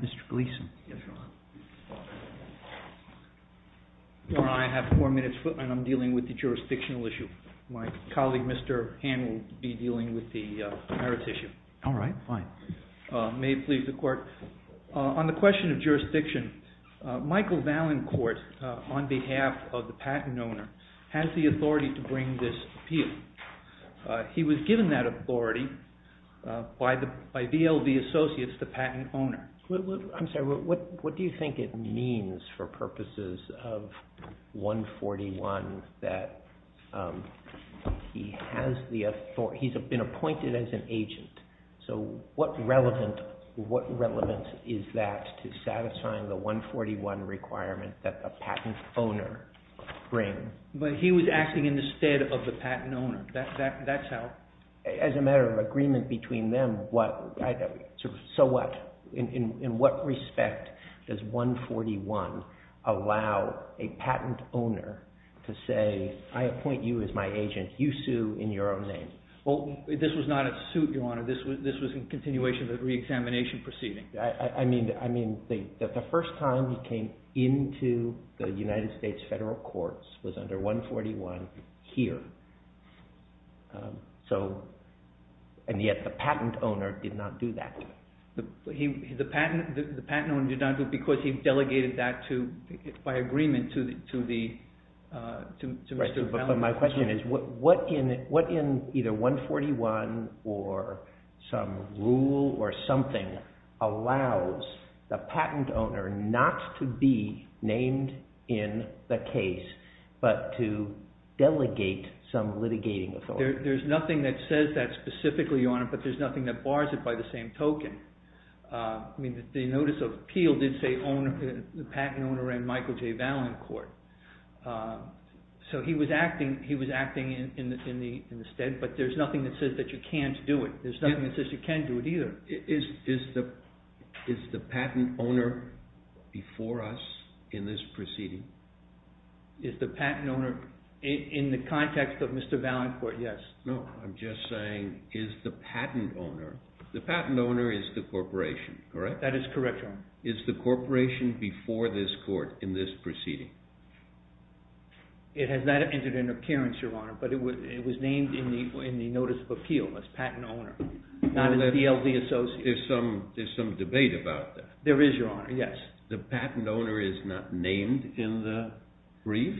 Mr. Gleeson. I have four minutes and I'm dealing with the jurisdictional issue. My colleague Mr. Hand will be dealing with the merits issue. May it please the court. On the question of has the authority to bring this appeal. He was given that authority by VLB Associates, the patent owner. I'm sorry, what do you think it means for purposes of 141 that he has the authority, he's been appointed as an agent. So what relevance is that to satisfying the 141 requirement that the he was acting in the stead of the patent owner. As a matter of agreement between them, so what? In what respect does 141 allow a patent owner to say I appoint you as my agent, you sue in your own name. This was not a suit, your honor. This was a continuation of the re-examination I mean, the first time he came into the United States federal courts was under 141 here. So, and yet the patent owner did not do that. The patent owner did not do it because he delegated that to by agreement to the, to Mr. But my question is what in either 141 or some rule or something allows the patent owner not to be named in the case, but to delegate some litigating authority. There's nothing that says that specifically, your honor, but there's nothing that bars it by the same token. I mean, the notice of appeal did say the patent owner and Michael J. Valencourt. So he was acting in the stead, but there's nothing that says that you can't do it. There's nothing that says you can't do it either. Is the patent owner before us in this proceeding? Is the patent owner in the context of Mr. Valencourt? Yes. No, I'm just is the patent owner. The patent owner is the corporation, correct? That is correct. Is the corporation before this court in this proceeding? It has not entered into appearance, your honor, but it was, it was named in the, in the notice of appeal as patent owner, not as DLD associate. There's some, there's some debate about that. There is your honor. Yes. The patent owner is not named in the brief.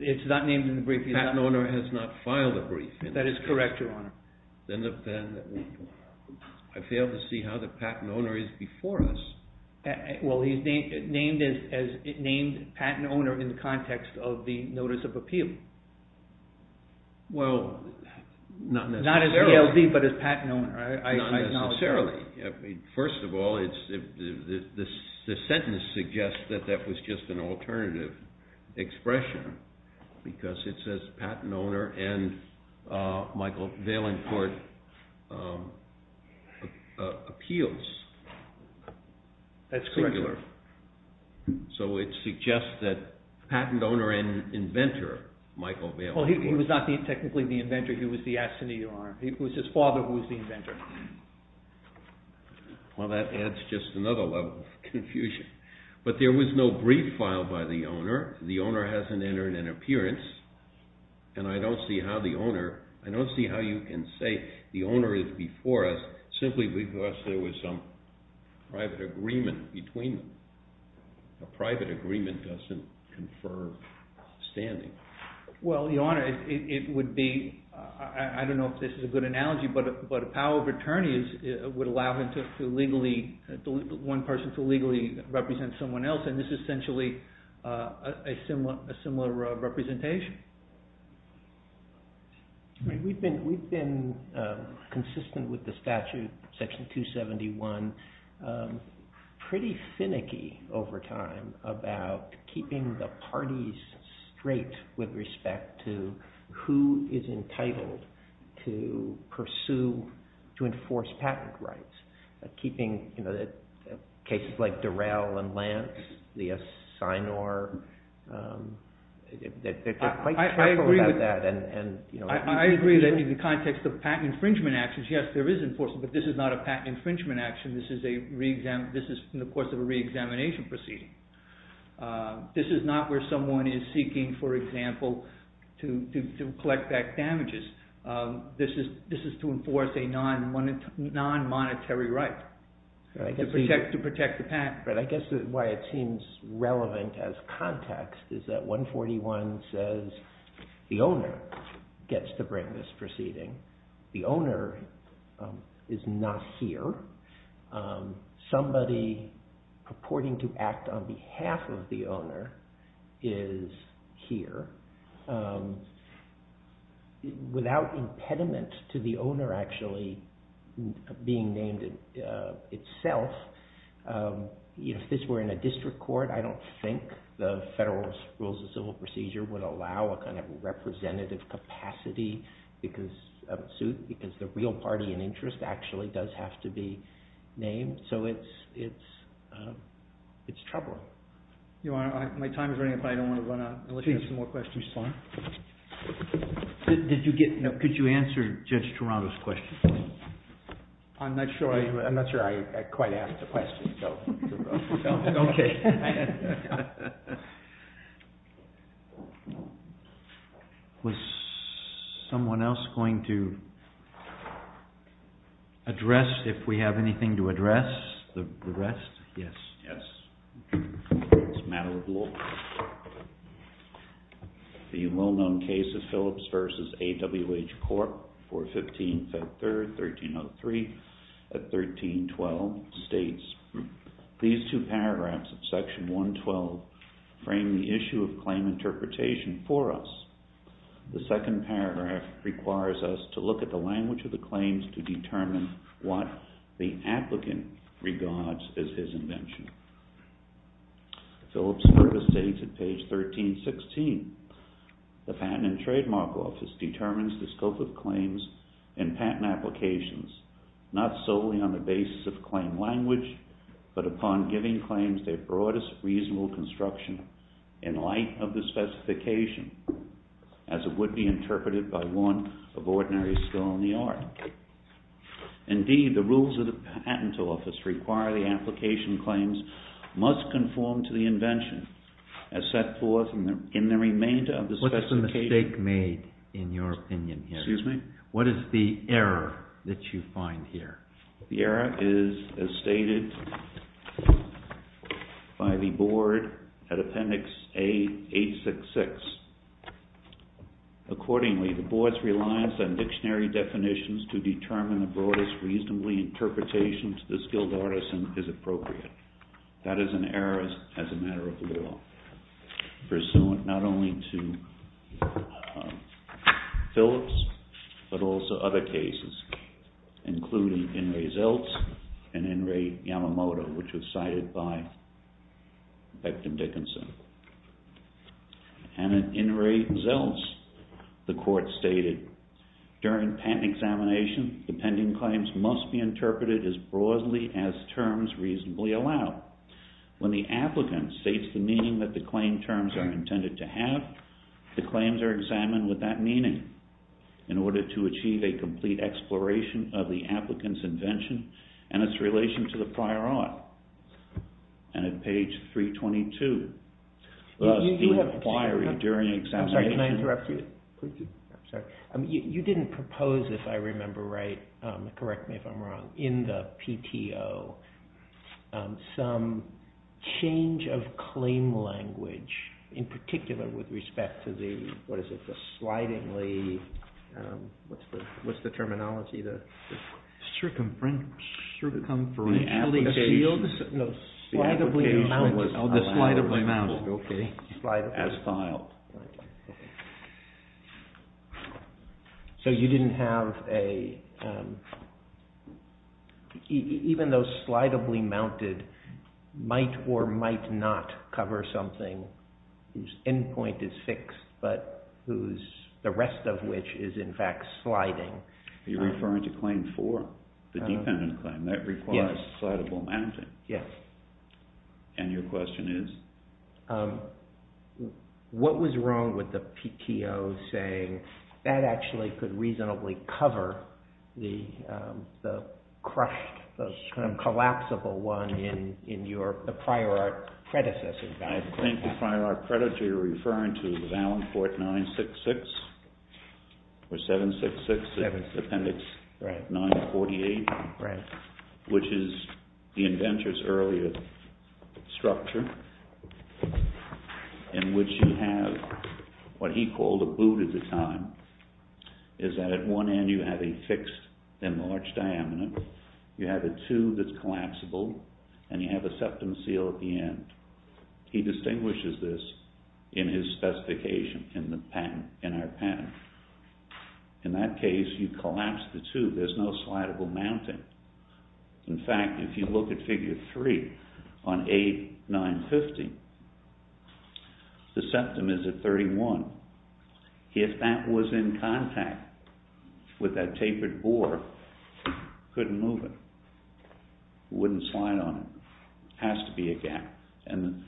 It's not named in the brief. The patent owner has not filed a brief. That is correct, your honor. Then I fail to see how the patent owner is before us. Well, he's named as, named patent owner in the context of the notice of appeal. Well, not necessarily. Not as DLD, but as patent owner. I acknowledge that. Not necessarily. First of all, it's, the sentence suggests that that was just an alternative expression because it says patent owner and Michael Valencourt appeals. That's correct, your honor. So, it suggests that patent owner and inventor, Michael Valencourt. Well, he was not technically the inventor. He was the assignee, your honor. It was his father who was the inventor. Well, that adds just another level of confusion, but there was no brief filed by the owner. The owner hasn't entered an appearance, and I don't see how the owner, I don't see how you can say the owner is before us simply because there was some private agreement between them. A private agreement doesn't confer standing. Well, your honor, it would be, I don't know if this is a good analogy, but a power of attorneys would allow one person to legally represent someone else, and this is essentially a similar representation. We've been consistent with the statute, section 271, pretty finicky over time about keeping the parties straight with respect to who is entitled to pursue, to enforce patent rights, keeping cases like Durell and Lance, the Assignor. I agree that in the context of patent infringement actions, yes, there is enforcement, but this is not a patent infringement action. This is in the course of a reexamination proceeding. This is not where someone is seeking, for example, to collect back damages. This is to enforce a non-monetary right to protect the patent. But I guess why it seems relevant as context is that 141 says the owner gets to bring this proceeding. The owner is not here. Somebody purporting to act on behalf of the owner is here. Without impediment to the owner actually being named itself, if this were in a district court, I don't think the Federal Rules of Civil Procedure would allow a kind of representative capacity because the real party in interest actually does have to be named. So it's troubling. My time is running up. I don't want to run out. I'll let you have some more questions. Could you answer Judge Toronto's question? I'm not sure I quite asked the question. Was someone else going to address if we have anything to address the rest? Yes. Yes. It's a matter of law. The well-known case of Phillips v. AWH Corp. 415-5-3, 1303-1312 states, these two paragraphs of section 112 frame the issue of claim interpretation for us. The second paragraph requires us to look at the language of the claims to determine what the applicant regards as his invention. Phillips further states at page 1316, the Patent and Trademark Office determines the scope of claims and patent applications, not solely on the basis of claim language, but upon giving claims their broadest reasonable construction in light of the specification as it would be interpreted by one of ordinary skill in the art. Indeed, the rules of the Patent Office require the application claims must conform to the invention as set forth in the remainder of the specification. What's the mistake made in your opinion here? Excuse me? What is the error that you find here? The error is as stated by the Board at Appendix A-866. Accordingly, the Board's reliance on dictionary definitions to determine the broadest reasonably interpretation to the skilled artisan is appropriate. That is an error as a matter of law, pursuant not only to Phillips, but also other and in Ray Yamamoto, which was cited by Beckton Dickinson. And in Ray Zeltz, the Court stated, during patent examination, the pending claims must be interpreted as broadly as terms reasonably allow. When the applicant states the meaning that the claim terms are intended to have, the claims are examined with that meaning. In order to achieve a complete exploration of the and its relation to the prior art, and at page 322, the inquiry during examination... I'm sorry, can I interrupt you? Please do. I'm sorry. You didn't propose, if I remember right, correct me if I'm wrong, in the PTO, some change of claim language, in particular with respect to the slidingly... what's the terminology? The shield? No, the slidably mounted, as filed. So you didn't have a... even though slidably mounted might or might not cover something whose end point is fixed, but whose... the rest of which is in fact sliding. You're referring to claim 4, the dependent claim. That requires slidable mounting. Yes. And your question is? What was wrong with the PTO saying that actually could reasonably cover the crushed, the kind of collapsible one in your prior art predecessors? I think the prior art predator you're referring to is Allenport 966, or 766, Appendix 948, which is the inventor's earlier structure, in which you have what he called a boot at the time, is that at one end you have a fixed enlarged diamond, you have a tube that's collapsible, and you have a septum seal at the end. He distinguishes this in his specification in the patent, in our patent. In that case, you collapse the tube, there's no slidable mounting. In fact, if you look at figure 3 on A950, the septum is at 31. If that was in contact with that tapered bore, it couldn't move it. It wouldn't slide on it. It has to be a gap. And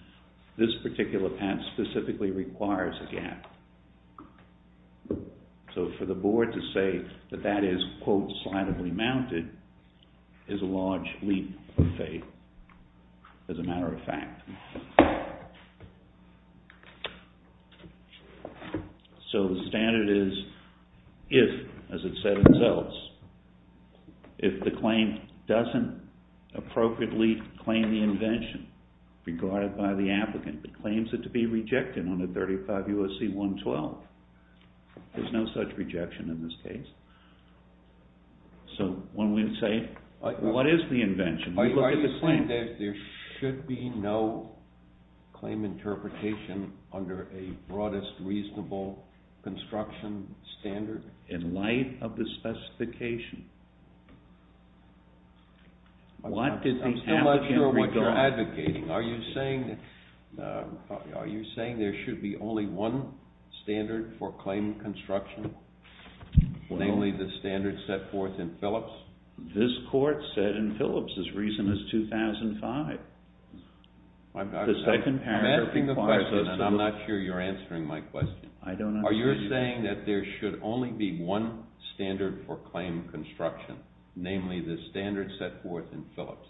this particular patent specifically requires a gap. So for the board to say that that is, quote, slidably mounted, is a large leap of faith, as a matter of fact. So the standard is, if, as it said itself, if the claim doesn't appropriately claim the invention regarded by the applicant, but claims it to be rejected on a 35 U.S.C. 112, there's no such rejection in this case. So one would say, what is the invention? Are you saying that there should be no claim interpretation under a broadest, reasonable construction standard? In light of the specification. I'm still not sure what you're advocating. Are you saying there should be only one standard for claim construction? Namely, the standard set forth in Phillips? This court said in Phillips, this reason is 2005. I'm asking the question, and I'm not sure you're answering my question. Are you saying that there should only be one standard for claim construction? Namely, the standard set forth in Phillips?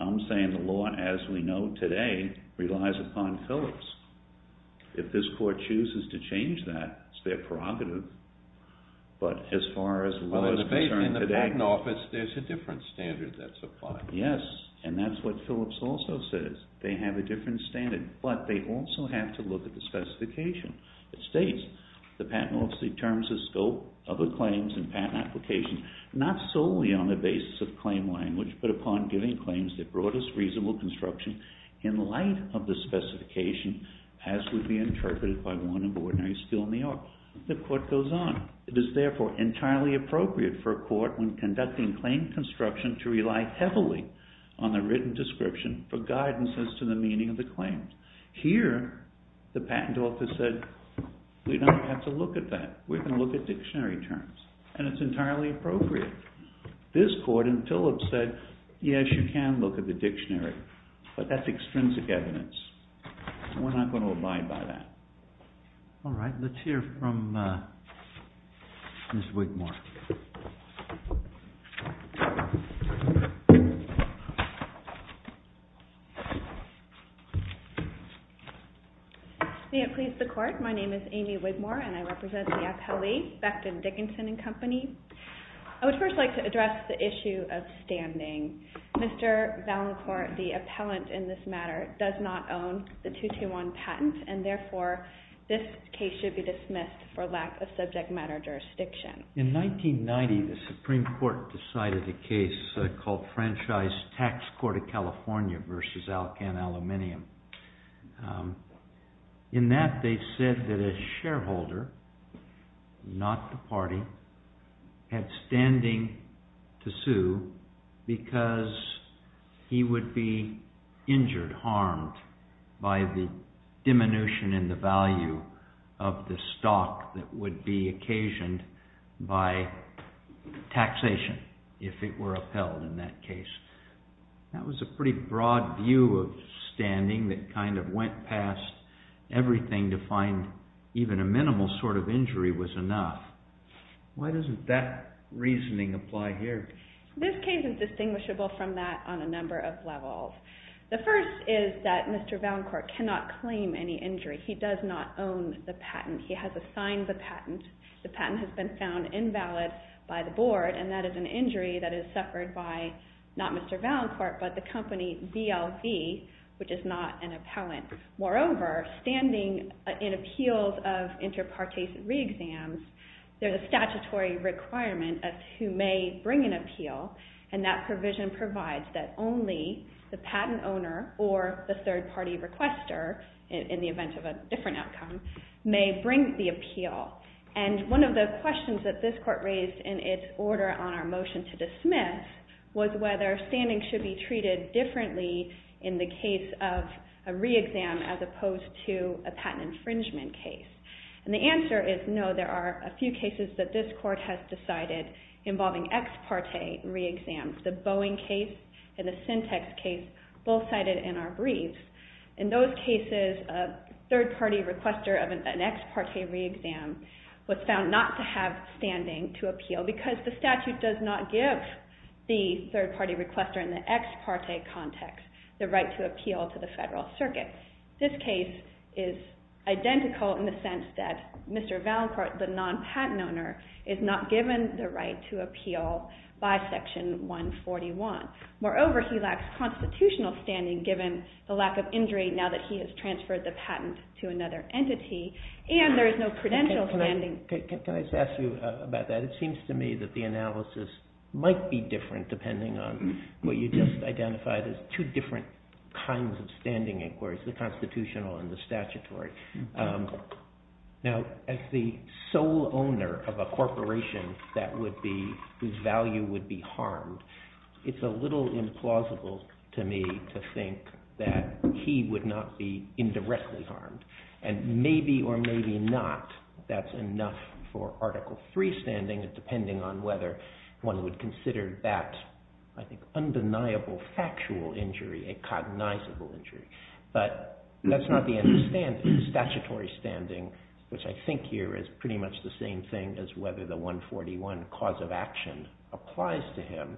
I'm saying the law, as we know today, relies upon Phillips. If this court chooses to change that, it's their prerogative. But as far as the law is concerned today... In the patent office, there's a different standard that's applied. Yes, and that's what Phillips also says. They have a different standard. But they also have to look at the specification. It states, the patent office determines the scope of the claims and patent applications, not solely on the basis of claim language, but upon giving claims the broadest, reasonable construction in light of the specification, as would be interpreted by one of ordinary skill in the art. The court goes on. It is therefore entirely appropriate for a court when conducting claim construction to rely heavily on the written description for guidance as to the meaning of the claim. Here, the patent office said, we don't have to look at that. We're going to look at dictionary terms, and it's entirely appropriate. This court in Phillips said, yes, you can look at the dictionary, but that's extrinsic evidence. We're not going to abide by that. All right, let's hear from Mr. Wigmore. May it please the court, my name is Amy Wigmore, and I represent the appellee, Becton Dickinson and Company. I would first like to address the issue of standing. Mr. Valancourt, the appellant in this matter, does not own the 221 patent, and therefore this case should be dismissed for lack of subject matter jurisdiction. In 1990, the Supreme Court decided a case called Franchise Tax Court of California versus Alcan Aluminium. In that, they said that a shareholder, not the party, had standing to sue because he would be injured, harmed by the diminution in the value of the stock that would be occasioned by taxation if it were upheld in that case. That was a pretty broad view of standing that kind of went past everything to find even a minimal sort of injury was enough. Why doesn't that reasoning apply here? This case is distinguishable from that on a number of levels. The first is that Mr. Valancourt cannot claim any injury. He does not own the patent. He has assigned the patent. The patent has been found invalid by the board, and that is an injury that is suffered by not Mr. Valancourt, but the company ZLV, which is not an appellant. Moreover, standing in appeals of interpartisan re-exams, there's a statutory requirement as to who may bring an appeal, and that provision provides that only the patent owner or the third party requester, in the event of a different outcome, may bring the appeal. One of the questions that this court raised in its order on our motion to dismiss was whether standing should be treated differently in the case of a re-exam as opposed to a patent infringement case. The answer is no. There are a few cases that this court has decided involving ex parte re-exams, the Boeing case and the Syntex case, both cited in our briefs. In those cases, a third party requester of an ex parte re-exam was found not to have standing to appeal because the statute does not give the third party requester in the ex parte context the right to appeal to the federal circuit. This case is identical in the sense that Mr. Valancourt, the non-patent owner, is not given the right to appeal by section 141. Moreover, he lacks constitutional standing given the lack of injury now that he has transferred the patent to another entity, and there is no credential standing. Can I ask you about that? It seems to me that the analysis might be different depending on what you just identified as two different kinds of standing inquiries, the constitutional and the statutory. Now, as the sole owner of a corporation whose value would be harmed, it's a little implausible to me to think that he would not be indirectly harmed, and maybe or maybe not that's enough for Article III standing depending on whether one would consider that, I think, undeniable factual injury a cognizable injury. But that's not the understanding. Statutory standing, which I think here is pretty much the same thing as whether the 141 cause of action applies to him,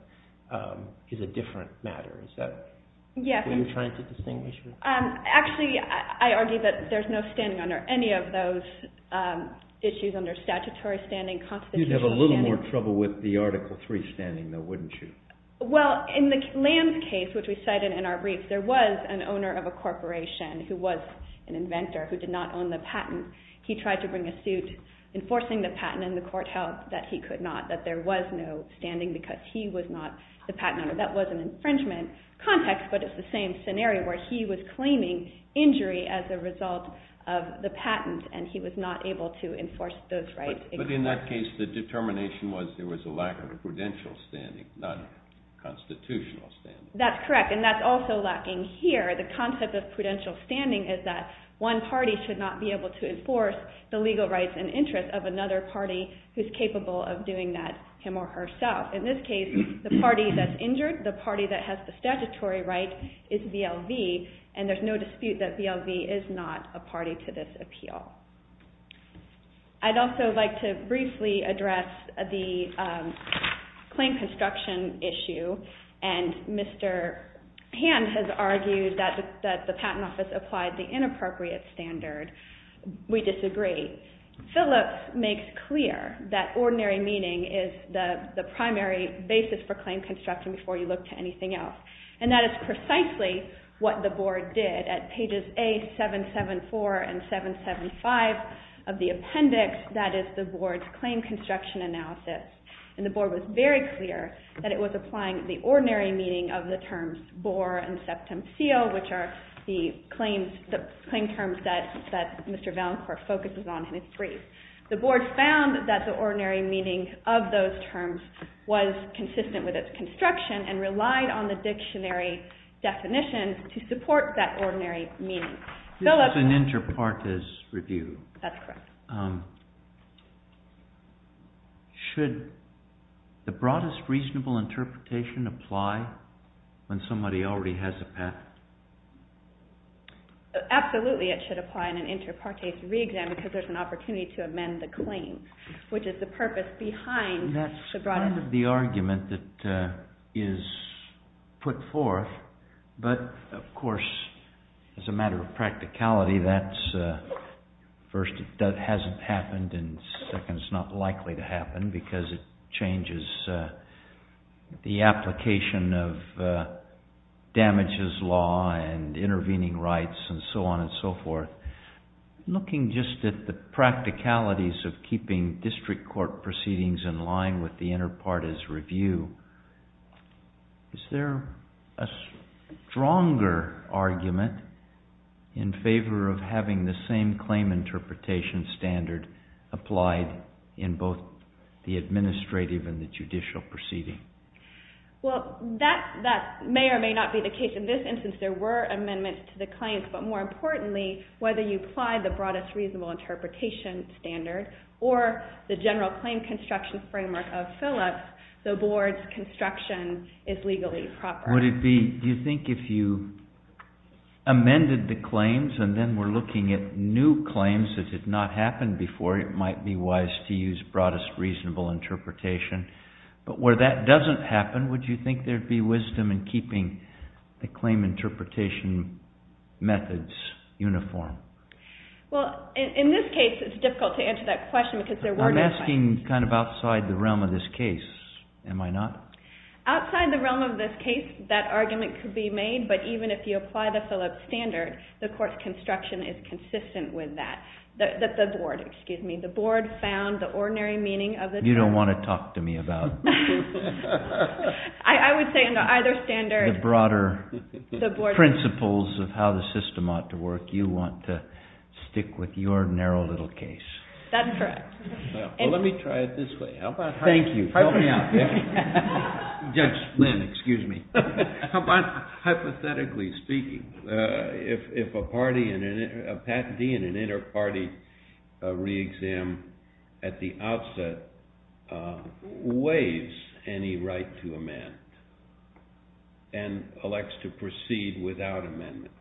is a different matter. Is that what you're trying to distinguish? Actually, I argue that there's no standing under any of those issues under statutory standing, constitutional standing. You'd have a little more trouble with the Article III standing, though, wouldn't you? Well, in the Lam's case, which we cited in our brief, there was an owner of a corporation who was an inventor who did not own the patent. He tried to bring a suit enforcing the patent, and the court held that he could not, that there was no standing because he was not the patent owner. That was an infringement context, but it's the same scenario where he was claiming injury as a result of the patent, and he was not able to enforce those rights. But in that case, the determination was there was a lack of a prudential standing, not a constitutional standing. That's correct, and that's also lacking here. The concept of prudential standing is that one party should not be able to enforce the legal rights and interests of another party who's capable of doing that, him or herself. In this case, the party that's injured, the party that has the statutory right, is VLV, and there's no dispute that VLV is not a party to this appeal. I'd also like to briefly address the claim construction issue, and Mr. Hand has argued that the Patent Office applied the inappropriate standard. We disagree. Phillips makes clear that ordinary meaning is the primary basis for claim construction before you look to anything else, and that is precisely what the Board did at pages A774 and 775 of the appendix, that is, the Board's claim construction analysis. And the Board was very clear that it was applying the ordinary meaning of the terms bore and septum seal, which are the claim terms that Mr. Valencourt focuses on in his brief. The Board found that the ordinary meaning of those terms was consistent with its construction and relied on the dictionary definition to support that ordinary meaning. This is an inter partes review. That's correct. Should the broadest reasonable interpretation apply when somebody already has a patent? Absolutely, it should apply in an inter partes re-exam because there's an opportunity to amend the claim, which is the purpose behind the broadest... The argument that is put forth, but of course, as a matter of practicality, that's... First, it hasn't happened, and second, it's not likely to happen because it changes the application of damages law and intervening rights and so on and so forth. Looking just at the practicalities of keeping district court proceedings in line with the inter partes review, is there a stronger argument in favor of having the same claim interpretation standard applied in both the administrative and the judicial proceeding? Well, that may or may not be the case. In this instance, there were amendments to the claims, but more importantly, whether you apply the broadest reasonable interpretation standard or the general claim construction framework of Phillips, the board's construction is legally proper. Would it be... Do you think if you amended the claims and then we're looking at new claims that did not happen before, it might be wise to use broadest reasonable interpretation? But where that doesn't happen, would you think there'd be wisdom in keeping the claim interpretation methods uniform? Well, in this case, it's difficult to answer that question because there were no... I'm asking kind of outside the realm of this case, am I not? Outside the realm of this case, that argument could be made. But even if you apply the Phillips standard, the court's construction is consistent with that, that the board, excuse me, the board found the ordinary meaning of the... You don't want to talk to me about... I would say under either standard... The broader principles of how the system ought to work, you want to stick with your narrow little case. That's correct. Well, let me try it this way. How about... Thank you. Help me out. Judge Lynn, excuse me. How about hypothetically speaking, if a party, a patentee in an inter-party re-exam at the outset waives any right to amend and elects to proceed without amendment,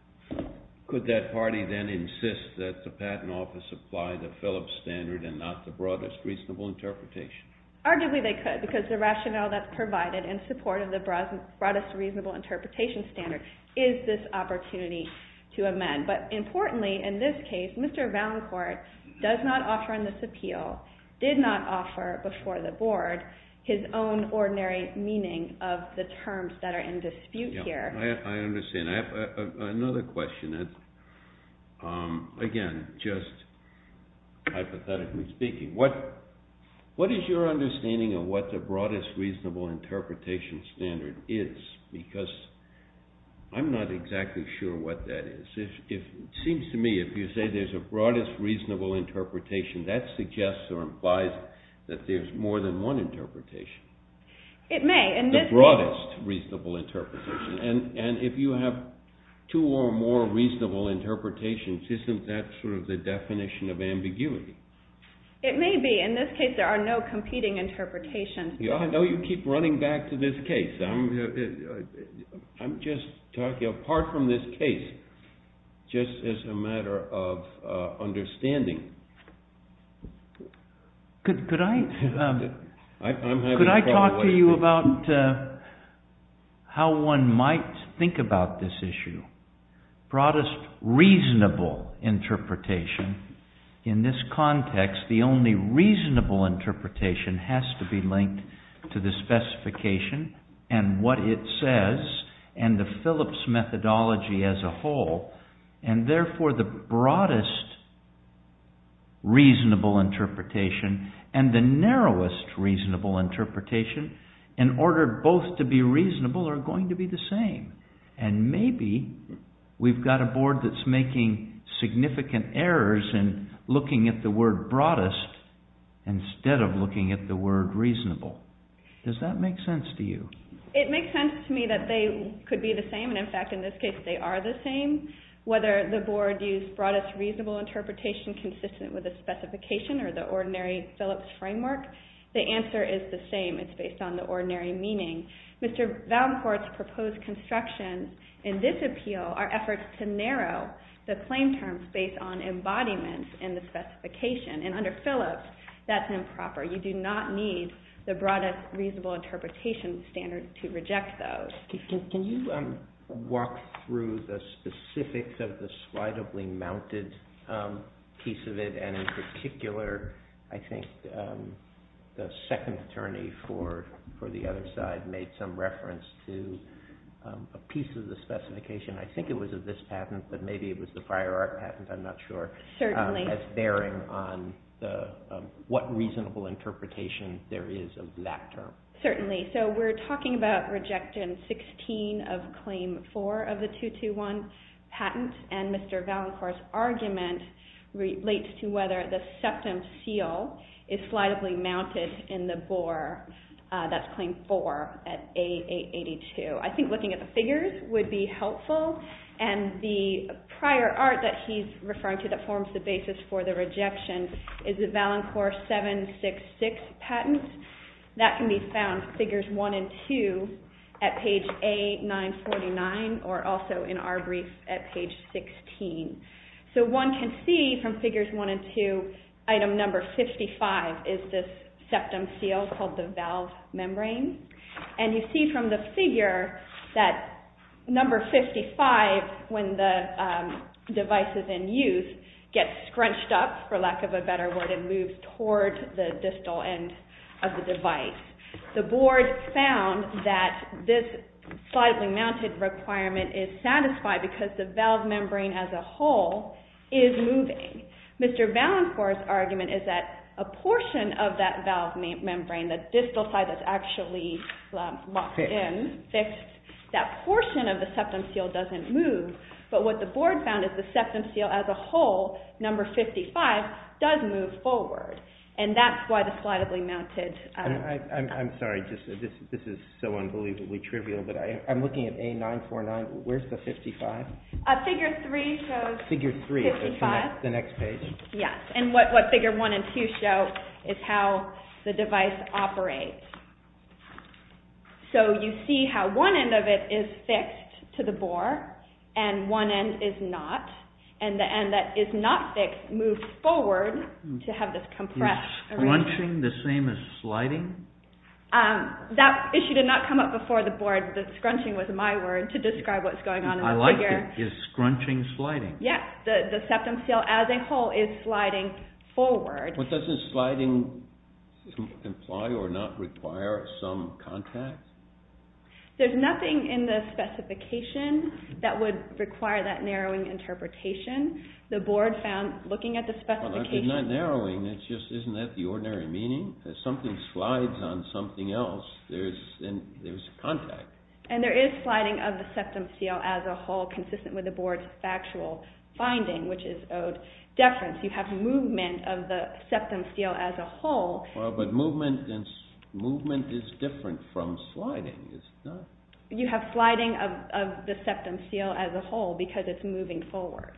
could that party then insist that the patent office apply the Phillips standard and not the broadest reasonable interpretation? Arguably, they could because the rationale that's provided in support of the broadest reasonable interpretation standard is this opportunity to amend. But importantly, in this case, Mr. Valencourt does not offer in this appeal, did not offer before the board, his own ordinary meaning of the terms that are in dispute here. I understand. Another question. Again, just hypothetically speaking, what is your understanding of what the broadest reasonable interpretation standard is? Because I'm not exactly sure what that is. Seems to me, if you say there's a broadest reasonable interpretation, that suggests or implies that there's more than one interpretation. It may. The broadest reasonable interpretation, and if you have two or more reasonable interpretations, isn't that sort of the definition of ambiguity? It may be. In this case, there are no competing interpretations. I know you keep running back to this case. I'm just talking apart from this case, just as a matter of understanding. Could I talk to you about how one might think about this issue? Broadest reasonable interpretation. In this context, the only reasonable interpretation has to be linked to the specification and what it says and the Phillips methodology as a whole. Therefore, the broadest reasonable interpretation and the narrowest reasonable interpretation, in order both to be reasonable, are going to be the same. Maybe we've got a board that's making significant errors in looking at the word broadest instead of looking at the word reasonable. Does that make sense to you? It makes sense to me that they could be the same. In this case, they are the same. Whether the board used broadest reasonable interpretation consistent with the specification or the ordinary Phillips framework, the answer is the same. It's based on the ordinary meaning. Mr. Valencourt's proposed construction in this appeal are efforts to narrow the claim terms based on embodiments in the specification. Under Phillips, that's improper. You do not need the broadest reasonable interpretation standard to reject those. Can you walk through the specifics of the slightly mounted piece of it? And in particular, I think the second attorney for the other side made some reference to a piece of the specification. I think it was of this patent, but maybe it was the fire art patent. I'm not sure. Certainly. It's bearing on what reasonable interpretation there is of that term. Certainly. We're talking about Rejection 16 of Claim 4 of the 221 patent, and Mr. Valencourt's argument relates to whether the septum seal is slightly mounted in the bore. That's Claim 4 at A882. I think looking at the figures would be helpful, and the prior art that he's referring to that forms the basis for the rejection is the Valencourt 766 patent. That can be found figures 1 and 2 at page A949, or also in our brief at page 16. So one can see from figures 1 and 2, item number 55 is this septum seal called the valve membrane. And you see from the figure that number 55, when the device is in use, gets scrunched up, for lack of a better word, it moves toward the distal end of the device. The board found that this slightly mounted requirement is satisfied because the valve membrane as a whole is moving. Mr. Valencourt's argument is that a portion of that valve membrane, the distal side that's actually locked in, fixed, that portion of the septum seal doesn't move. But what the board found is the septum seal as a whole, number 55, does move forward. And that's why the slightly mounted— I'm sorry, this is so unbelievably trivial, but I'm looking at A949. Where's the 55? Figure 3 shows— Figure 3, the next page? Yes, and what figure 1 and 2 show is how the device operates. So, you see how one end of it is fixed to the bore, and one end is not, and the end that is not fixed moves forward to have this compressed area. Is scrunching the same as sliding? That issue did not come up before the board, that scrunching was my word to describe what's going on in the figure. I like it, is scrunching sliding? Yes, the septum seal as a whole is sliding forward. But doesn't sliding imply or not require some contact? There's nothing in the specification that would require that narrowing interpretation. The board found, looking at the specification— Well, it's not narrowing, it's just, isn't that the ordinary meaning? If something slides on something else, there's contact. And there is sliding of the septum seal as a whole consistent with the board's factual finding, which is owed deference. You have movement of the septum seal as a whole. But movement is different from sliding, is it not? You have sliding of the septum seal as a whole because it's moving forward.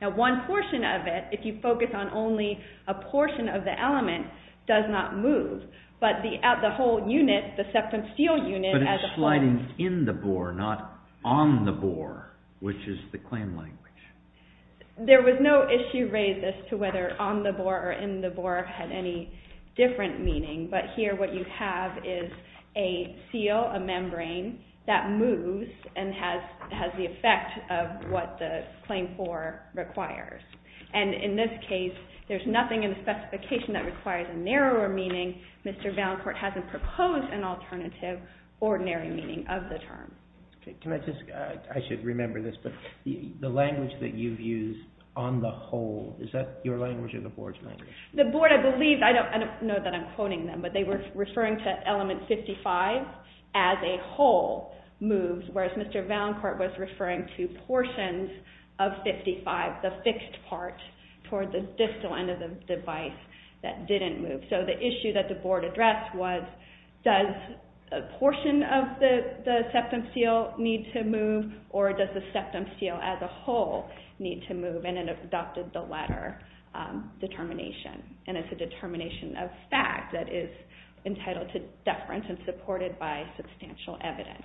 Now, one portion of it, if you focus on only a portion of the element, does not move. But the whole unit, the septum seal unit as a whole— But it's sliding in the bore, not on the bore, which is the clan language. There was no issue raised as to whether on the bore or in the bore had any different meaning. But here what you have is a seal, a membrane, that moves and has the effect of what the claim for requires. And in this case, there's nothing in the specification that requires a narrower meaning. Mr. Valencourt hasn't proposed an alternative ordinary meaning of the term. Can I just—I should remember this, but the language that you've used, on the whole, is that your language or the board's language? The board, I believe—I don't know that I'm quoting them, but they were referring to element 55 as a whole moves, whereas Mr. Valencourt was referring to portions of 55, the fixed part toward the distal end of the device that didn't move. The issue that the board addressed was, does a portion of the septum seal need to move or does the septum seal as a whole need to move? And it adopted the latter determination. And it's a determination of fact that is entitled to deference and supported by substantial evidence.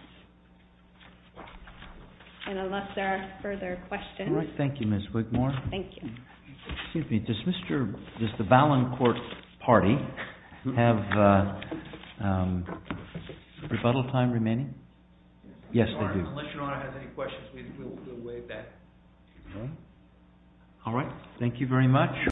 And unless there are further questions— All right. Thank you, Ms. Wigmore. Thank you. Excuse me. Does Mr.—does the Valencourt party have rebuttal time remaining? Yes, they do. Unless your Honor has any questions, we'll waive that. All right. Thank you very much.